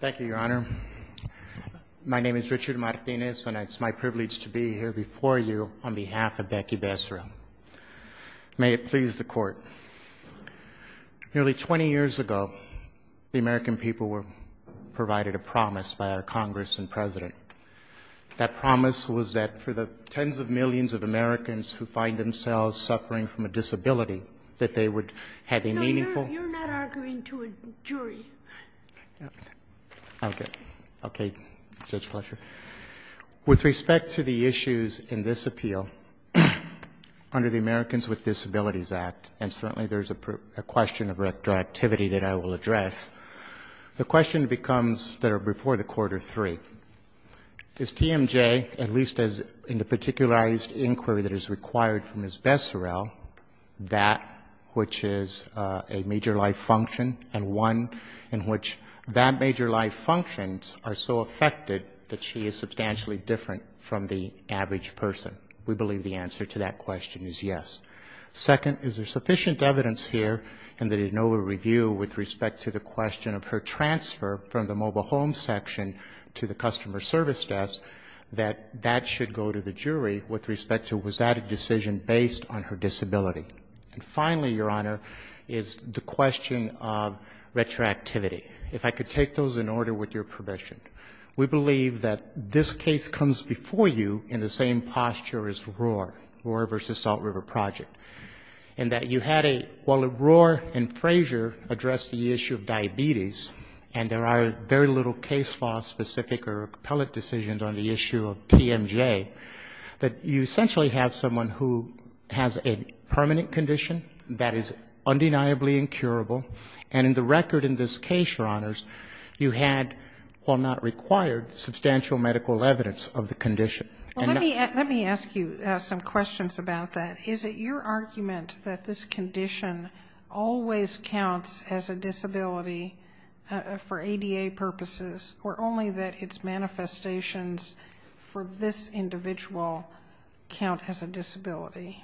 Thank you, Your Honor. My name is Richard Martinez, and it's my privilege to be here before you on behalf of Becky Becceril. May it please the Court. Nearly 20 years ago, the American people were provided a promise by our Congress and President. That promise was that for the tens of millions of Americans who find themselves suffering from a disability, that they would have a meaningful You're not arguing to a jury. Okay. Okay, Judge Fletcher. With respect to the issues in this appeal, under the Americans with Disabilities Act, and certainly there's a question of retroactivity that I will address, the question becomes that are before the Court are three. Is TMJ, at least in the particularized inquiry that is required from Ms. Becceril, that which is a major life function, and one in which that major life function are so affected that she is substantially different from the average person? We believe the answer to that question is yes. Second, is there sufficient evidence here in the de novo review with respect to the question of her transfer from the mobile home section to the customer service desk that that should go to the jury with respect to was that a decision based on her disability? And finally, Your Honor, is the question of retroactivity. If I could take those in order with your permission. We believe that this case comes before you in the same posture as Roar, Roar v. Salt River Project, in that you had a, while Roar and Frazier addressed the issue of diabetes, and there are very little case law specific or appellate decisions on the issue of TMJ, that you essentially have someone who has a permanent condition that is undeniably incurable, and in the record in this case, Your Honors, you had, while not required, substantial medical evidence of the condition. And let me ask you some questions about that. Is it your argument that this condition always counts as a disability for ADA purposes, or only that its manifestations for this individual count as a disability?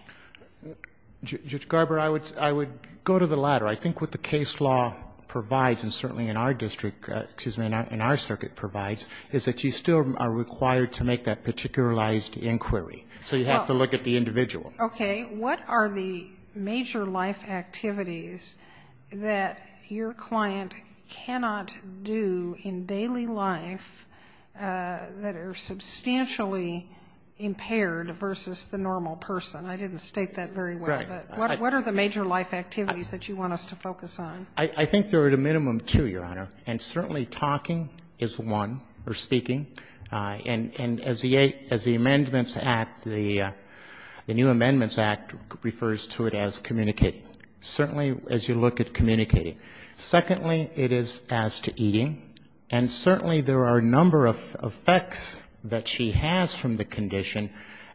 Judge Garber, I would go to the latter. I think what the case law provides, and certainly in our district, excuse me, in our circuit provides, is that you still are required to make that particularized inquiry. So you have to look at the individual. Okay. What are the major life activities that your client cannot do in daily life that are substantially impaired versus the normal person? I didn't state that very well, but what are the major life activities that you want us to focus on? I think there are at a minimum two, Your Honor, and certainly talking is one, or speaking. And as the Amendments Act, the new Amendments Act refers to it as communicating. Certainly as you look at communicating. Secondly, it is as to eating. And certainly there are a number of effects that she has from the condition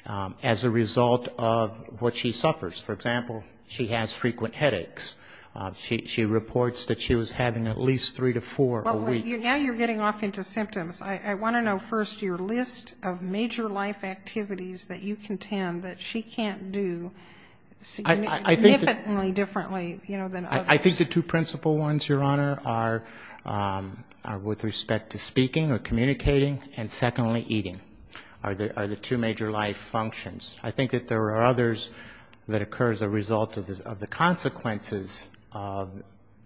as a result of what she suffers. For example, she has frequent headaches. She reports that she was having at least three to four a week. Now you're getting off into symptoms. I want to know first your list of major life activities that you contend that she can't do significantly differently than others. I think the two principal ones, Your Honor, are with respect to speaking or communicating, and secondly, eating are the two major life functions. I think that there are others that occur as a result of the consequences of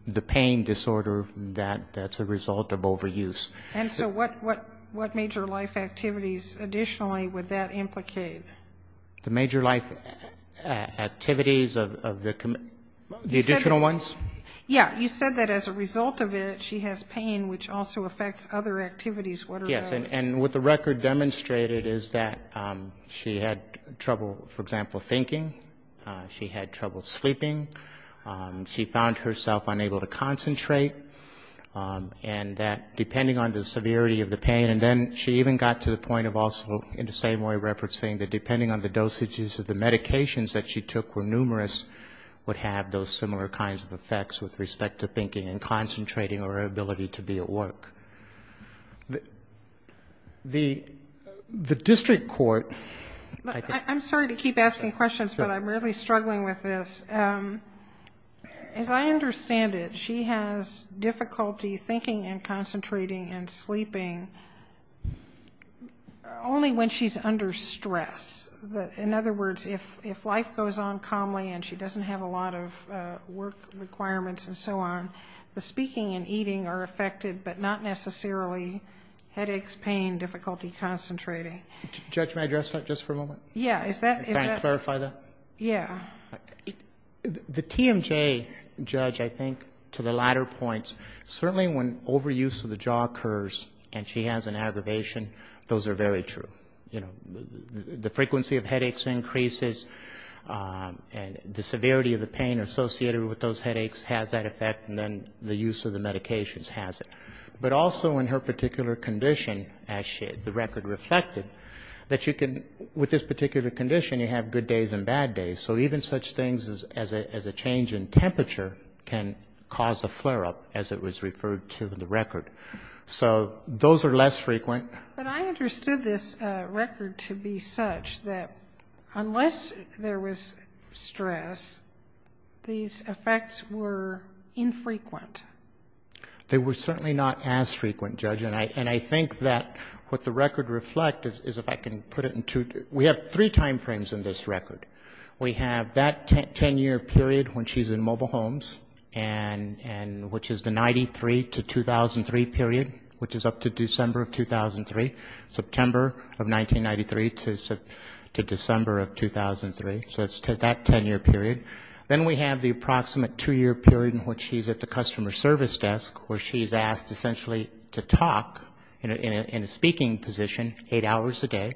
the pain disorder that's a result of overuse. And so what major life activities additionally would that implicate? The major life activities of the additional ones? Yeah, you said that as a result of it, she has pain, which also affects other activities, what are those? Yes, and what the record demonstrated is that she had trouble, for example, thinking. She had trouble sleeping. She found herself unable to concentrate. And that depending on the severity of the pain, and then she even got to the point of also in the same way referencing that depending on the dosages of the medications that she took were numerous, would have those similar kinds of effects with respect to thinking and concentrating or her ability to be at work. The district court... I'm sorry to keep asking questions, but I'm really struggling with this. As I understand it, she has difficulty thinking and concentrating and sleeping only when she's under stress. In other words, if life goes on calmly and she doesn't have a lot of work requirements and so on, the speaking and eating are affected, but not necessarily headaches, pain, difficulty concentrating. Judge, may I address that just for a moment? Yeah, is that... The TMJ judge, I think, to the latter points, certainly when overuse of the jaw occurs and she has an aggravation, those are very true. The frequency of headaches increases, and the severity of the pain associated with those headaches has that effect, and then the use of the medications has it. But also in her particular condition, as the record reflected, that you can, with this particular condition, you have good days and bad days, so even such things as a change in temperature can cause a flare-up, as it was referred to in the record. So those are less frequent. But I understood this record to be such that unless there was stress, these effects were infrequent. They were certainly not as frequent, Judge, and I think that what the record reflected is, if I can put it in two... We have three timeframes in this record. We have that 10-year period when she's in mobile homes, which is the 93 to 2003 period, which is up to December of 2003, September of 1993 to December of 2003, so that's that 10-year period. Then we have the approximate two-year period in which she's at the customer service desk, where she's asked essentially to talk in a speaking position eight hours a day.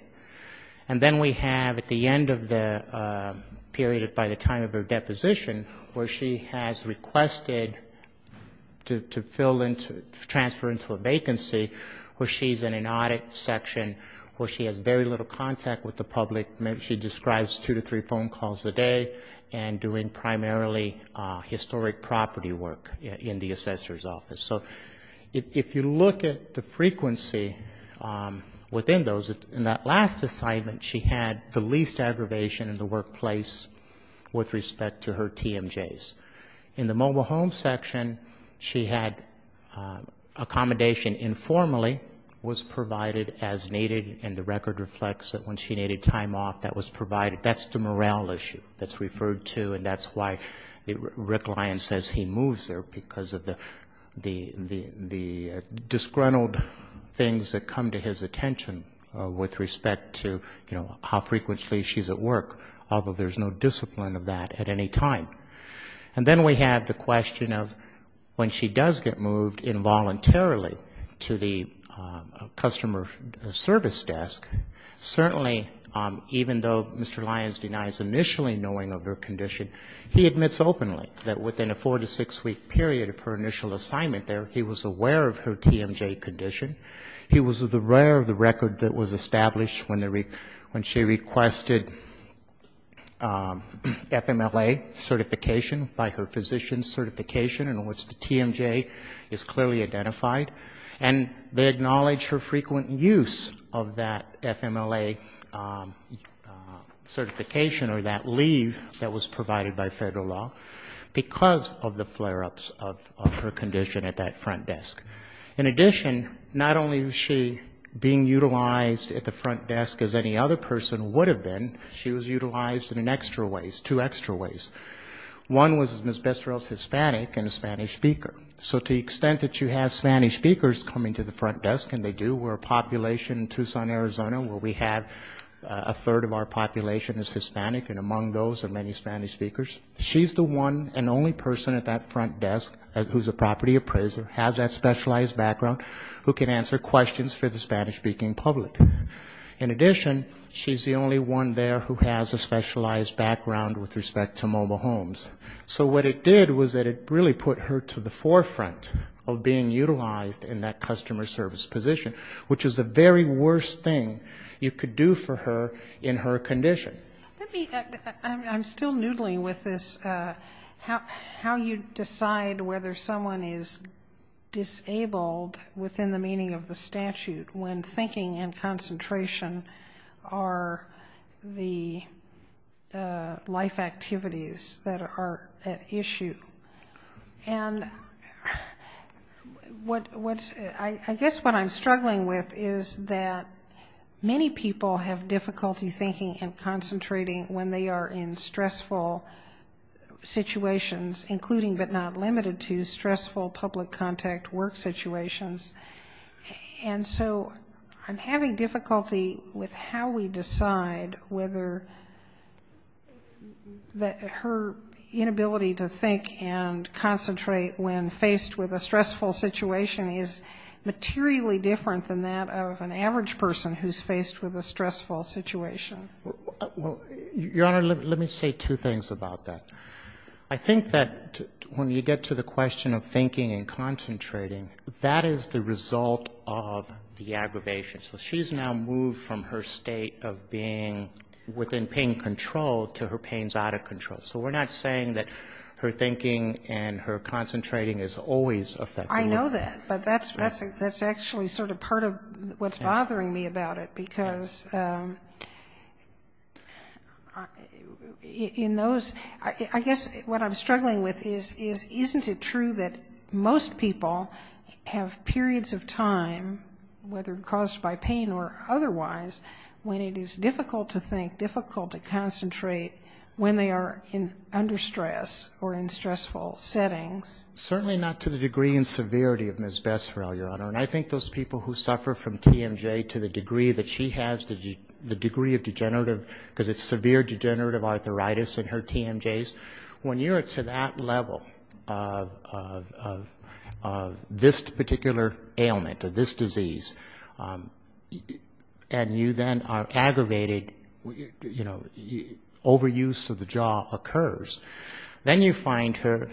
And then we have at the end of the period, by the time of her deposition, where she has requested to fill in, to transfer into a vacancy, where she's in an audit section, where she has very little contact with the public. She describes two to three phone calls a day and doing primarily historic property work in the assessor's office. So if you look at the frequency within those, in that last assignment, she had the least aggravation in the workplace with respect to her TMJs. In the mobile home section, she had accommodation informally, was provided as needed, and the record reflects that when she needed time off, that was provided. That's the morale issue that's referred to, and that's why Rick Lyon says he moves there, because of the disgruntled things that come to his attention with respect to, you know, how frequently she's at work, although there's no discipline of that at any time. And then we have the question of when she does get moved involuntarily to the customer service desk, certainly on the TMJ, even though Mr. Lyons denies initially knowing of her condition, he admits openly that within a four- to six-week period of her initial assignment there, he was aware of her TMJ condition. He was aware of the record that was established when she requested FMLA certification by her physician's certification, in which the TMJ is clearly identified. And they acknowledge her frequent use of that FMLA certification or that leave that was provided by federal law, because of the flare-ups of her condition at that front desk. In addition, not only was she being utilized at the front desk as any other person would have been, she was utilized in an extra ways, two extra ways. One was as Miss Besserell's Hispanic and a Spanish speaker. So to the extent that you have Spanish speakers coming to the front desk, and they do, we're a population in Tucson, Arizona, where we have a third of our population is Hispanic, and among those are many Spanish speakers. She's the one and only person at that front desk who's a property appraiser, has that specialized background, who can answer questions for the Spanish-speaking public. In addition, she's the only one there who has a specialized background with respect to mobile homes. So what it did was that it really put her to the forefront of being utilized in that customer service position, which is the very worst thing you could do for her in her condition. Let me, I'm still noodling with this, how you decide whether someone is disabled within the meaning of the statute, when thinking and concentrating on our issue. And what's, I guess what I'm struggling with is that many people have difficulty thinking and concentrating when they are in stressful situations, including, but not limited to, stressful public contact work situations. And so I'm having difficulty with how we decide whether that her, you know, is disabled or not. The inability to think and concentrate when faced with a stressful situation is materially different than that of an average person who's faced with a stressful situation. Well, Your Honor, let me say two things about that. I think that when you get to the question of thinking and concentrating, that is the result of the aggravation. So she's now moved from her state of being within pain control to her pain's out of control. So we're not saying that her thinking and her concentrating is always effective. I know that, but that's actually sort of part of what's bothering me about it, because in those, I guess what I'm struggling with is, isn't it true that most people have periods of time, whether caused by pain or otherwise, when it is difficult to think, difficult to concentrate, when they are in under stress or in stressful settings? Certainly not to the degree and severity of Ms. Besserell, Your Honor. And I think those people who suffer from TMJ to the degree that she has, the degree of degenerative, because it's severe degenerative arthritis in her TMJs, when you're to that level of this particular ailment, of this disease, and you then are aggravated, you're trying to concentrate, you're trying to concentrate on something, you know, overuse of the jaw occurs, then you find her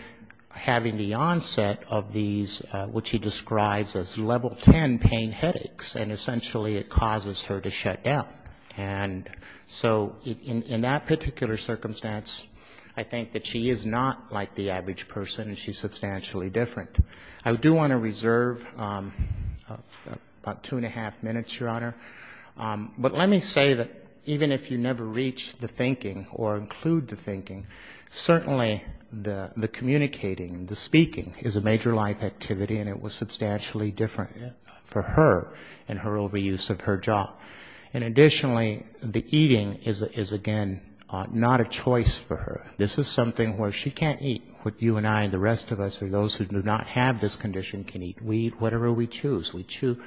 having the onset of these, which he describes as level 10 pain headaches, and essentially it causes her to shut down. And so in that particular circumstance, I think that she is not like the average person, and she's substantially different. I do want to reserve about two and a half minutes, Your Honor. But let me say that even if you've never been in pain control, never reached the thinking or include the thinking, certainly the communicating, the speaking is a major life activity, and it was substantially different for her and her overuse of her jaw. And additionally, the eating is, again, not a choice for her. This is something where she can't eat, but you and I and the rest of us or those who do not have this condition can eat. We eat whatever we choose. We chew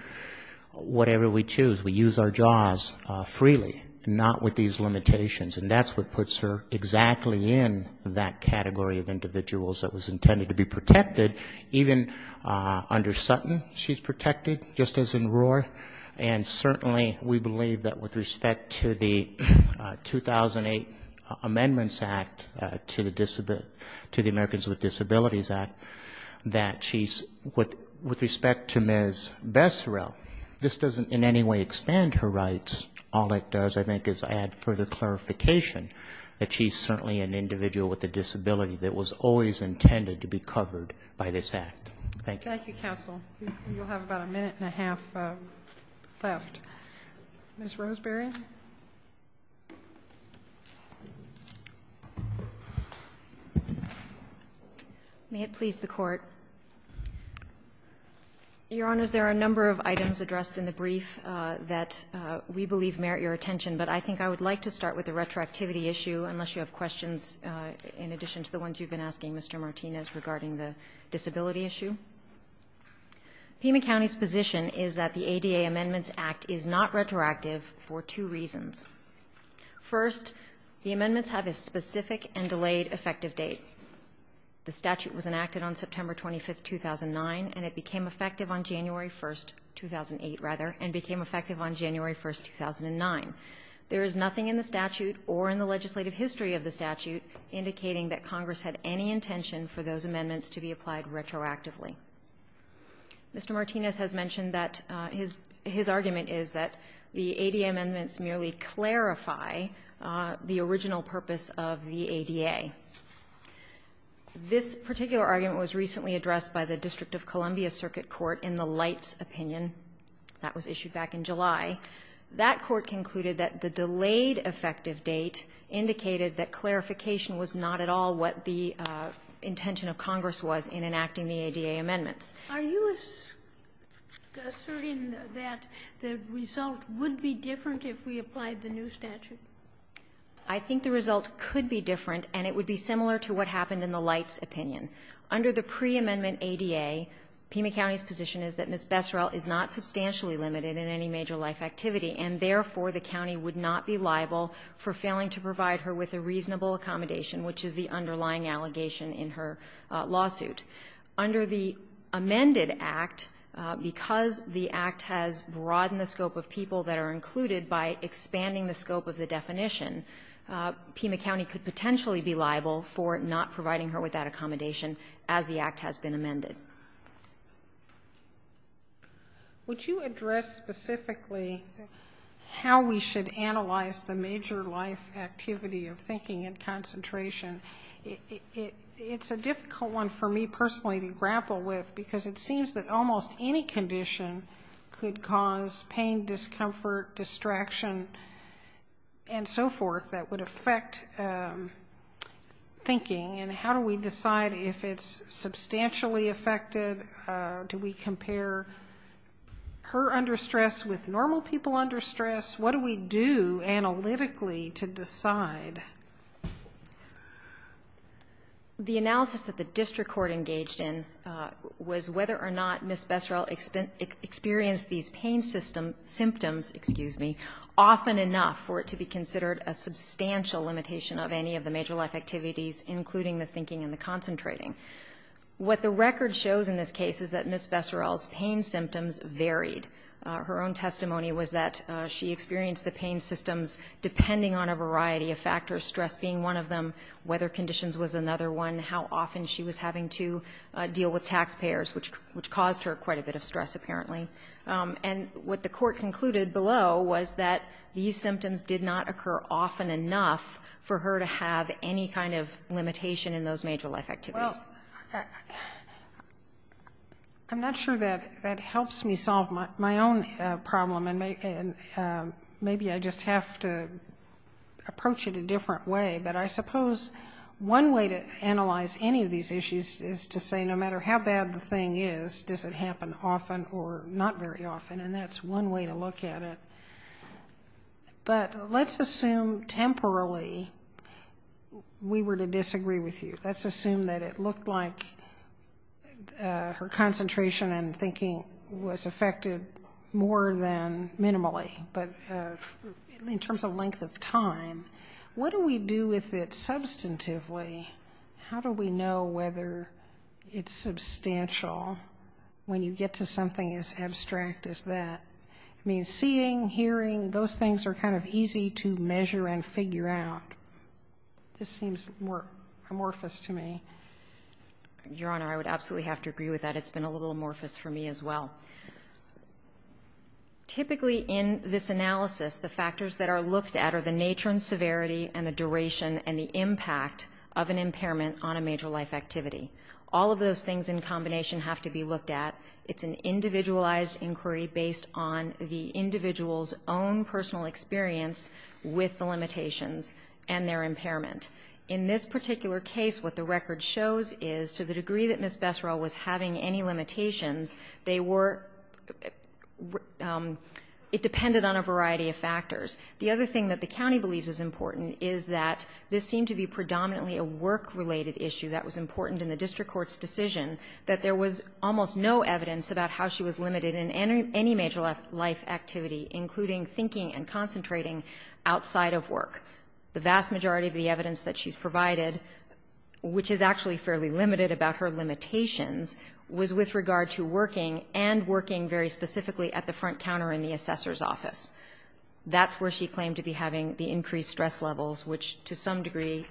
whatever we choose. We use our jaws freely, not with these limitations. And that's what puts her exactly in that category of individuals that was intended to be protected. Even under Sutton, she's protected, just as in Roar. And certainly we believe that with respect to the 2008 Amendments Act to the Americans with Disabilities Act, that she's, with respect to Ms. Besserell, this doesn't in any way expand her rights. All it does, I think, is add further clarification that she's certainly an individual with a disability that was always intended to be covered by this Act. Thank you. Ms. Roseberry. May it please the Court. Your Honors, there are a number of items addressed in the brief that we believe merit your attention. But I think I would like to start with the retroactivity issue, unless you have questions in addition to the ones you've been asking, Mr. Martinez, regarding the disability issue. Pima County's position is that the ADA Amendments Act is not retroactive for two reasons. First, the amendments have a specific and delayed effective date. The statute was enacted on September 25, 2009, and it became effective on January 1, 2008, rather, and became effective on January 1, 2009. And the amendments have a specific and delayed effective date. There is nothing in the statute or in the legislative history of the statute indicating that Congress had any intention for those amendments to be applied retroactively. Mr. Martinez has mentioned that his argument is that the ADA amendments merely clarify the original purpose of the ADA. This particular argument was recently addressed by the District of Columbia Circuit Court in the Light's opinion. That was issued back in 2010, and the delayed effective date indicated that clarification was not at all what the intention of Congress was in enacting the ADA amendments. Are you asserting that the result would be different if we applied the new statute? I think the result could be different, and it would be similar to what happened in the Light's opinion. Under the pre-amendment ADA, Pima County's position is that Ms. Besserell is not substantially limited in any major life activity, and therefore the county would not be liable for failing to provide her with a reasonable accommodation, which is the underlying allegation in her lawsuit. Under the amended act, because the act has broadened the scope of people that are included by expanding the scope of the definition, Pima County could potentially be liable for not providing her with that accommodation as the act has been amended. Would you address specifically how we should analyze the major life activity of thinking and concentration? It's a difficult one for me personally to grapple with, because it seems that almost any condition could cause pain, discomfort, distraction, and so forth that would affect thinking, and how do we decide if it's substantially affected or not? Do we compare her under stress with normal people under stress? What do we do analytically to decide? The analysis that the district court engaged in was whether or not Ms. Besserell experienced these pain systems, symptoms, excuse me, often enough for it to be considered a substantial limitation of any of the major life activities, including the thinking and the concentration. And what it shows in this case is that Ms. Besserell's pain symptoms varied. Her own testimony was that she experienced the pain systems depending on a variety of factors, stress being one of them, weather conditions was another one, how often she was having to deal with taxpayers, which caused her quite a bit of stress, apparently. And what the court concluded below was that these symptoms did not occur often enough for her to have any kind of limitation in those major life activities. I'm not sure that helps me solve my own problem, and maybe I just have to approach it a different way. But I suppose one way to analyze any of these issues is to say no matter how bad the thing is, does it happen often or not very often, and that's one way to look at it. But let's assume temporarily we were to disagree with you. Let's assume that it looked like her concentration and thinking was affected more than minimally. But in terms of length of time, what do we do with it substantively? How do we know whether it's substantial when you get to something as abstract as that? I mean, seeing, hearing, those things are kind of easy to measure and figure out. This seems amorphous to me. Your Honor, I would absolutely have to agree with that. It's been a little amorphous for me as well. Typically in this analysis, the factors that are looked at are the nature and severity and the duration and the impact of an impairment on a major life activity. All of those things in combination have to be looked at. And it's important to note that there was no evidence on the individual's own personal experience with the limitations and their impairment. In this particular case, what the record shows is to the degree that Ms. Besserell was having any limitations, they were — it depended on a variety of factors. The other thing that the county believes is important is that this seemed to be predominantly a work-related issue that was important in the district court's decision, that there was almost no evidence about how she was limited in any major life activity, including thinking and concentrating outside of work. The vast majority of the evidence that she's provided, which is actually fairly limited about her limitations, was with regard to working, and working very specifically at the front counter in the assessor's office. That's where she claimed to be having the increased stress levels, which to some degree,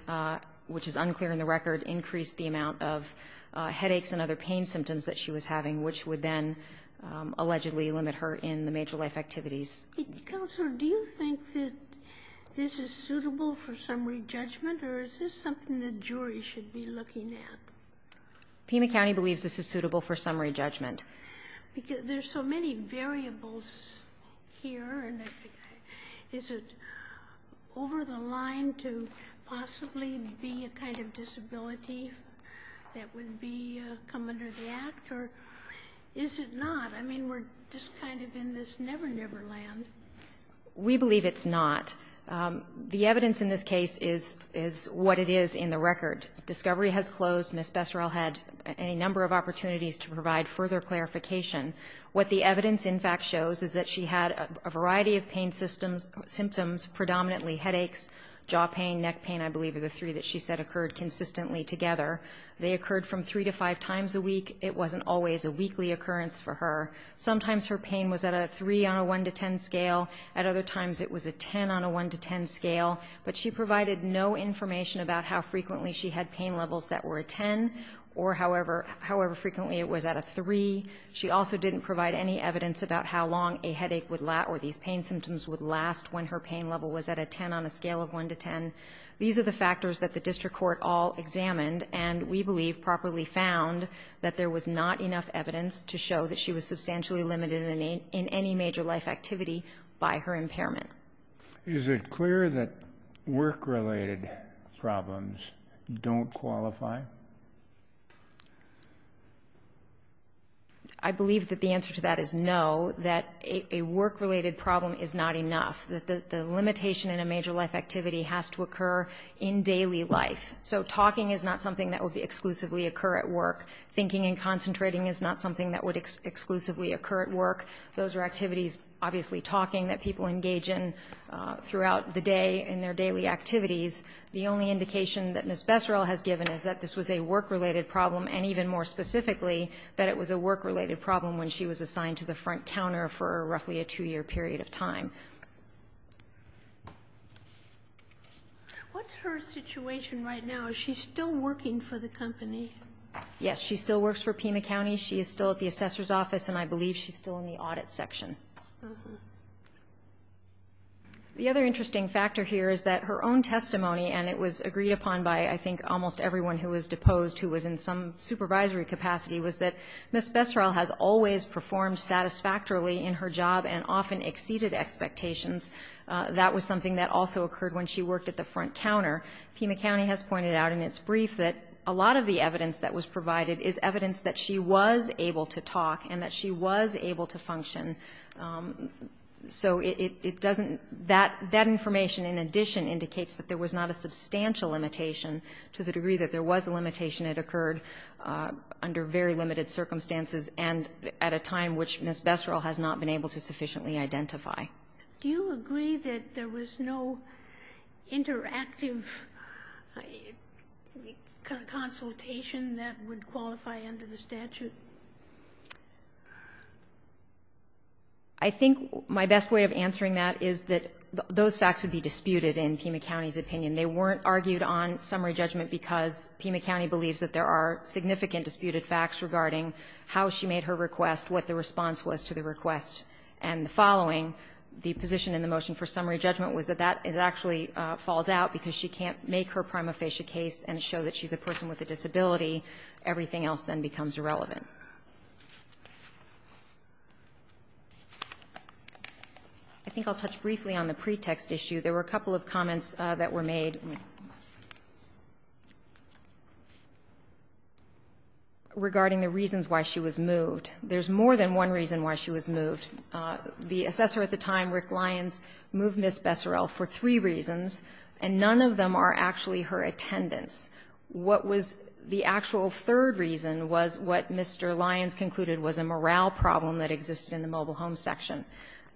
which is unclear in the record, increased the amount of headaches and other pain symptoms that she was experiencing, which would then allegedly limit her in the major life activities. Counselor, do you think that this is suitable for summary judgment, or is this something the jury should be looking at? Pima County believes this is suitable for summary judgment. There's so many variables here, and is it over the line to possibly be a kind of disability that would come under the Act, or is it not? I mean, we're just kind of in this never, never land. We believe it's not. The evidence in this case is what it is in the record. Discovery has closed. Ms. Besserell had a number of opportunities to provide further clarification. What the evidence, in fact, shows is that she had a variety of pain symptoms, predominantly headaches, jaw pain, neck pain, I believe are the three that she said occurred consistently together. They occurred from three to five times a week. It wasn't always a weekly occurrence for her. Sometimes her pain was at a three on a one to ten scale. At other times it was a ten on a one to ten scale. But she provided no information about how frequently she had pain levels that were a ten, or however frequently it was at a three. She also didn't provide any evidence about how long a headache would last, or these pain symptoms would last when her pain level was at a ten on a scale of one to ten. These are the factors that the district court all examined, and we believe properly found that there was not enough evidence to show that she was substantially limited in any major life activity by her impairment. Is it clear that work-related problems don't qualify? I believe that the answer to that is no, that a work-related problem is not enough. That the limitation in a major life activity has to occur in daily life. So talking is not something that would exclusively occur at work. Thinking and concentrating is not something that would exclusively occur at work. Those are activities, obviously talking, that people engage in throughout the day in their daily activities. The only indication that Ms. Besserill has given is that this was a work-related problem, and even more specifically, that it was a work-related problem when she was assigned to the front counter for roughly a two-year period of time. What's her situation right now? Is she still working for the company? Yes, she still works for Pima County. She is still at the assessor's office, and I believe she's still in the audit section. The other interesting factor here is that her own testimony, and it was agreed upon by, I think, almost everyone who was deposed, who was in some supervisory capacity, was that Ms. Besserill has always performed satisfactorily in her job and often exceeded expectations. That was something that also occurred when she worked at the front counter. Pima County has pointed out in its brief that a lot of the evidence that was provided is evidence that she was able to talk and that she was able to function. So it doesn't — that information, in addition, indicates that there was not a substantial limitation to the degree that there was a limitation that occurred under very limited circumstances and at a time which Ms. Besserill has not been able to sufficiently identify. Do you agree that there was no interactive consultation that would qualify under the statute? I think my best way of answering that is that those facts would be disputed in Pima County's opinion. They weren't argued on summary judgment because Pima County believes that there are significant disputed facts regarding how she made her request, what the response was to the request, and the following, the position in the motion for summary judgment, was that that actually falls out because she can't make her prima facie case and show that she's a person with a disability. Everything else then becomes irrelevant. I think I'll touch briefly on the pretext issue. There were a couple of comments that were made regarding the reasons why she was moved. There's more than one reason why she was moved. The assessor at the time, Rick Lyons, moved Ms. Besserill for three reasons, and none of them are actually her attendance. What was the actual third reason was what Mr. Lyons concluded was a morale problem that existed in the mobile home section.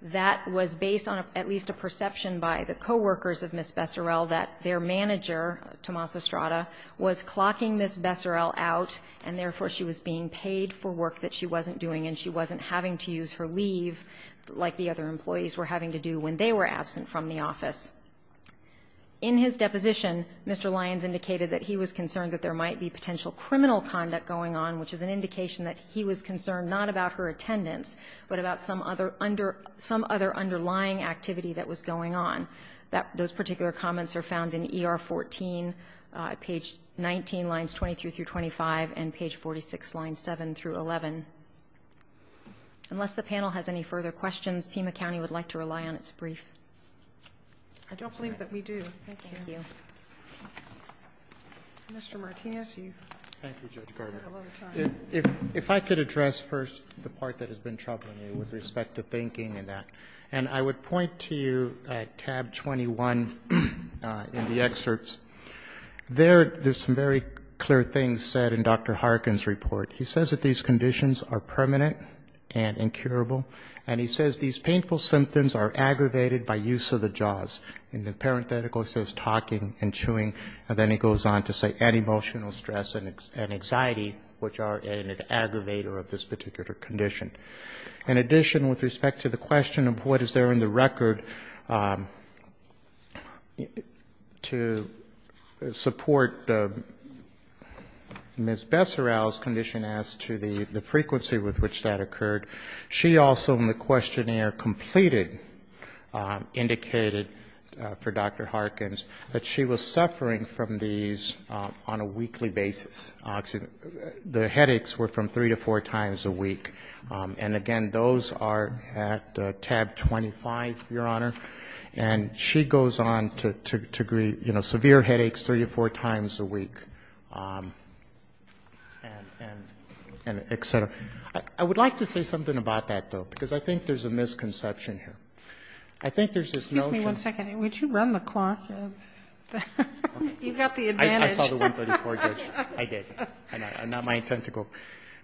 That was based on at least a perception by the coworkers of Ms. Besserill that their manager, Tomas Estrada, was clocking Ms. Besserill out and therefore she was being paid for work that she wasn't doing and she wasn't having to use her leave like the other employees were having to do when they were absent from the office. In his deposition, Mr. Lyons indicated that he was concerned that there might be potential criminal conduct going on, which is an indication that he was concerned not about her attendance, but about some other underlying activity that was going on. Those particular comments are found in ER 14, page 19, lines 23 through 25, and page 46, lines 7 through 11. Unless the panel has any further questions, Pima County would like to rely on its brief. Sotomayor, I don't believe that we do. Thank you. Mr. Martinez, you have a lot of time. If I could address first the part that has been troubling you with respect to thinking and that, and I would point to you at tab 21 in the excerpts. There, there's some very clear things said in Dr. Harkin's report. He says that these conditions are permanent and incurable, and he says these painful symptoms are aggravated by use of the jaws. In the parenthetical it says talking and chewing, and then he goes on to say, and emotional stress and anxiety, which are an aggravator of this particular condition. In addition, with respect to the question of what is there in the record to support Ms. Besserow's condition as to the frequency with which that occurred, she also in the questionnaire completed, indicated for Dr. Harkin's, that she was suffering from these conditions on a weekly basis. The headaches were from three to four times a week. And again, those are at tab 25, Your Honor. And she goes on to agree, you know, severe headaches three to four times a week, and et cetera. I would like to say something about that, though, because I think there's a misconception here. I think there's this notion. One second, would you run the clock? You've got the advantage. I saw the 134, Judge. I did. Not my intent to go.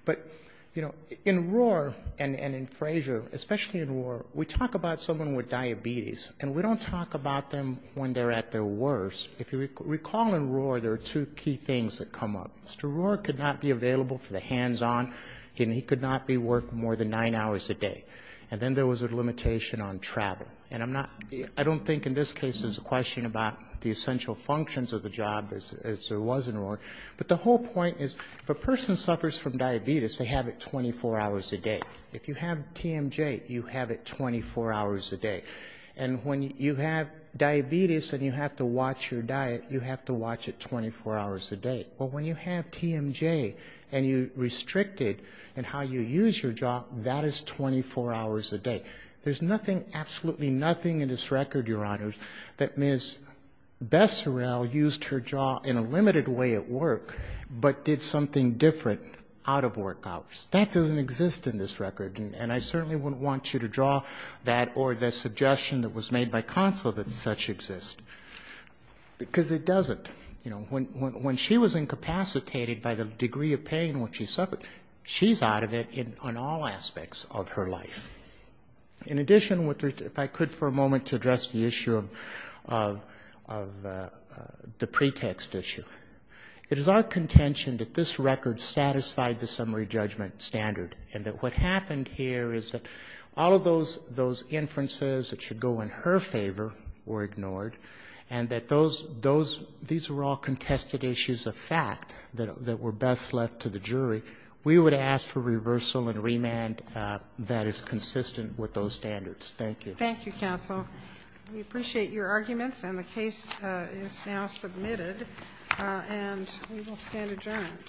But, you know, in Rohr and in Frazier, especially in Rohr, we talk about someone with diabetes, and we don't talk about them when they're at their worst. If you recall in Rohr, there are two key things that come up. Mr. Rohr could not be available for the hands-on. He could not be working more than nine hours a day. And then there was a limitation on travel. And I'm not, I don't think in this case there's a question about the essential functions of the job as there was in Rohr. But the whole point is if a person suffers from diabetes, they have it 24 hours a day. If you have TMJ, you have it 24 hours a day. And when you have diabetes and you have to watch your diet, you have to watch it 24 hours a day. But when you have TMJ and you restrict it in how you use your job, that is 24 hours a day. There's nothing, absolutely nothing in this record, Your Honors, that Ms. Besserell used her job in a limited way at work, but did something different out of work hours. That doesn't exist in this record. And I certainly wouldn't want you to draw that or the suggestion that was made by Consul that such exist, because it doesn't. You know, when she was incapacitated by the degree of pain when she suffered, she's out of it in all aspects of her life. In addition, if I could for a moment to address the issue of the pretext issue. It is our contention that this record satisfied the summary judgment standard, and that what happened here is that all of those inferences that should go in her favor were ignored, and that those, these were all contested issues of fact that were best left to the jury. We would ask for reversal and remand that is consistent with those standards. Thank you. Thank you, Counsel. We appreciate your arguments, and the case is now submitted, and we will stand adjourned.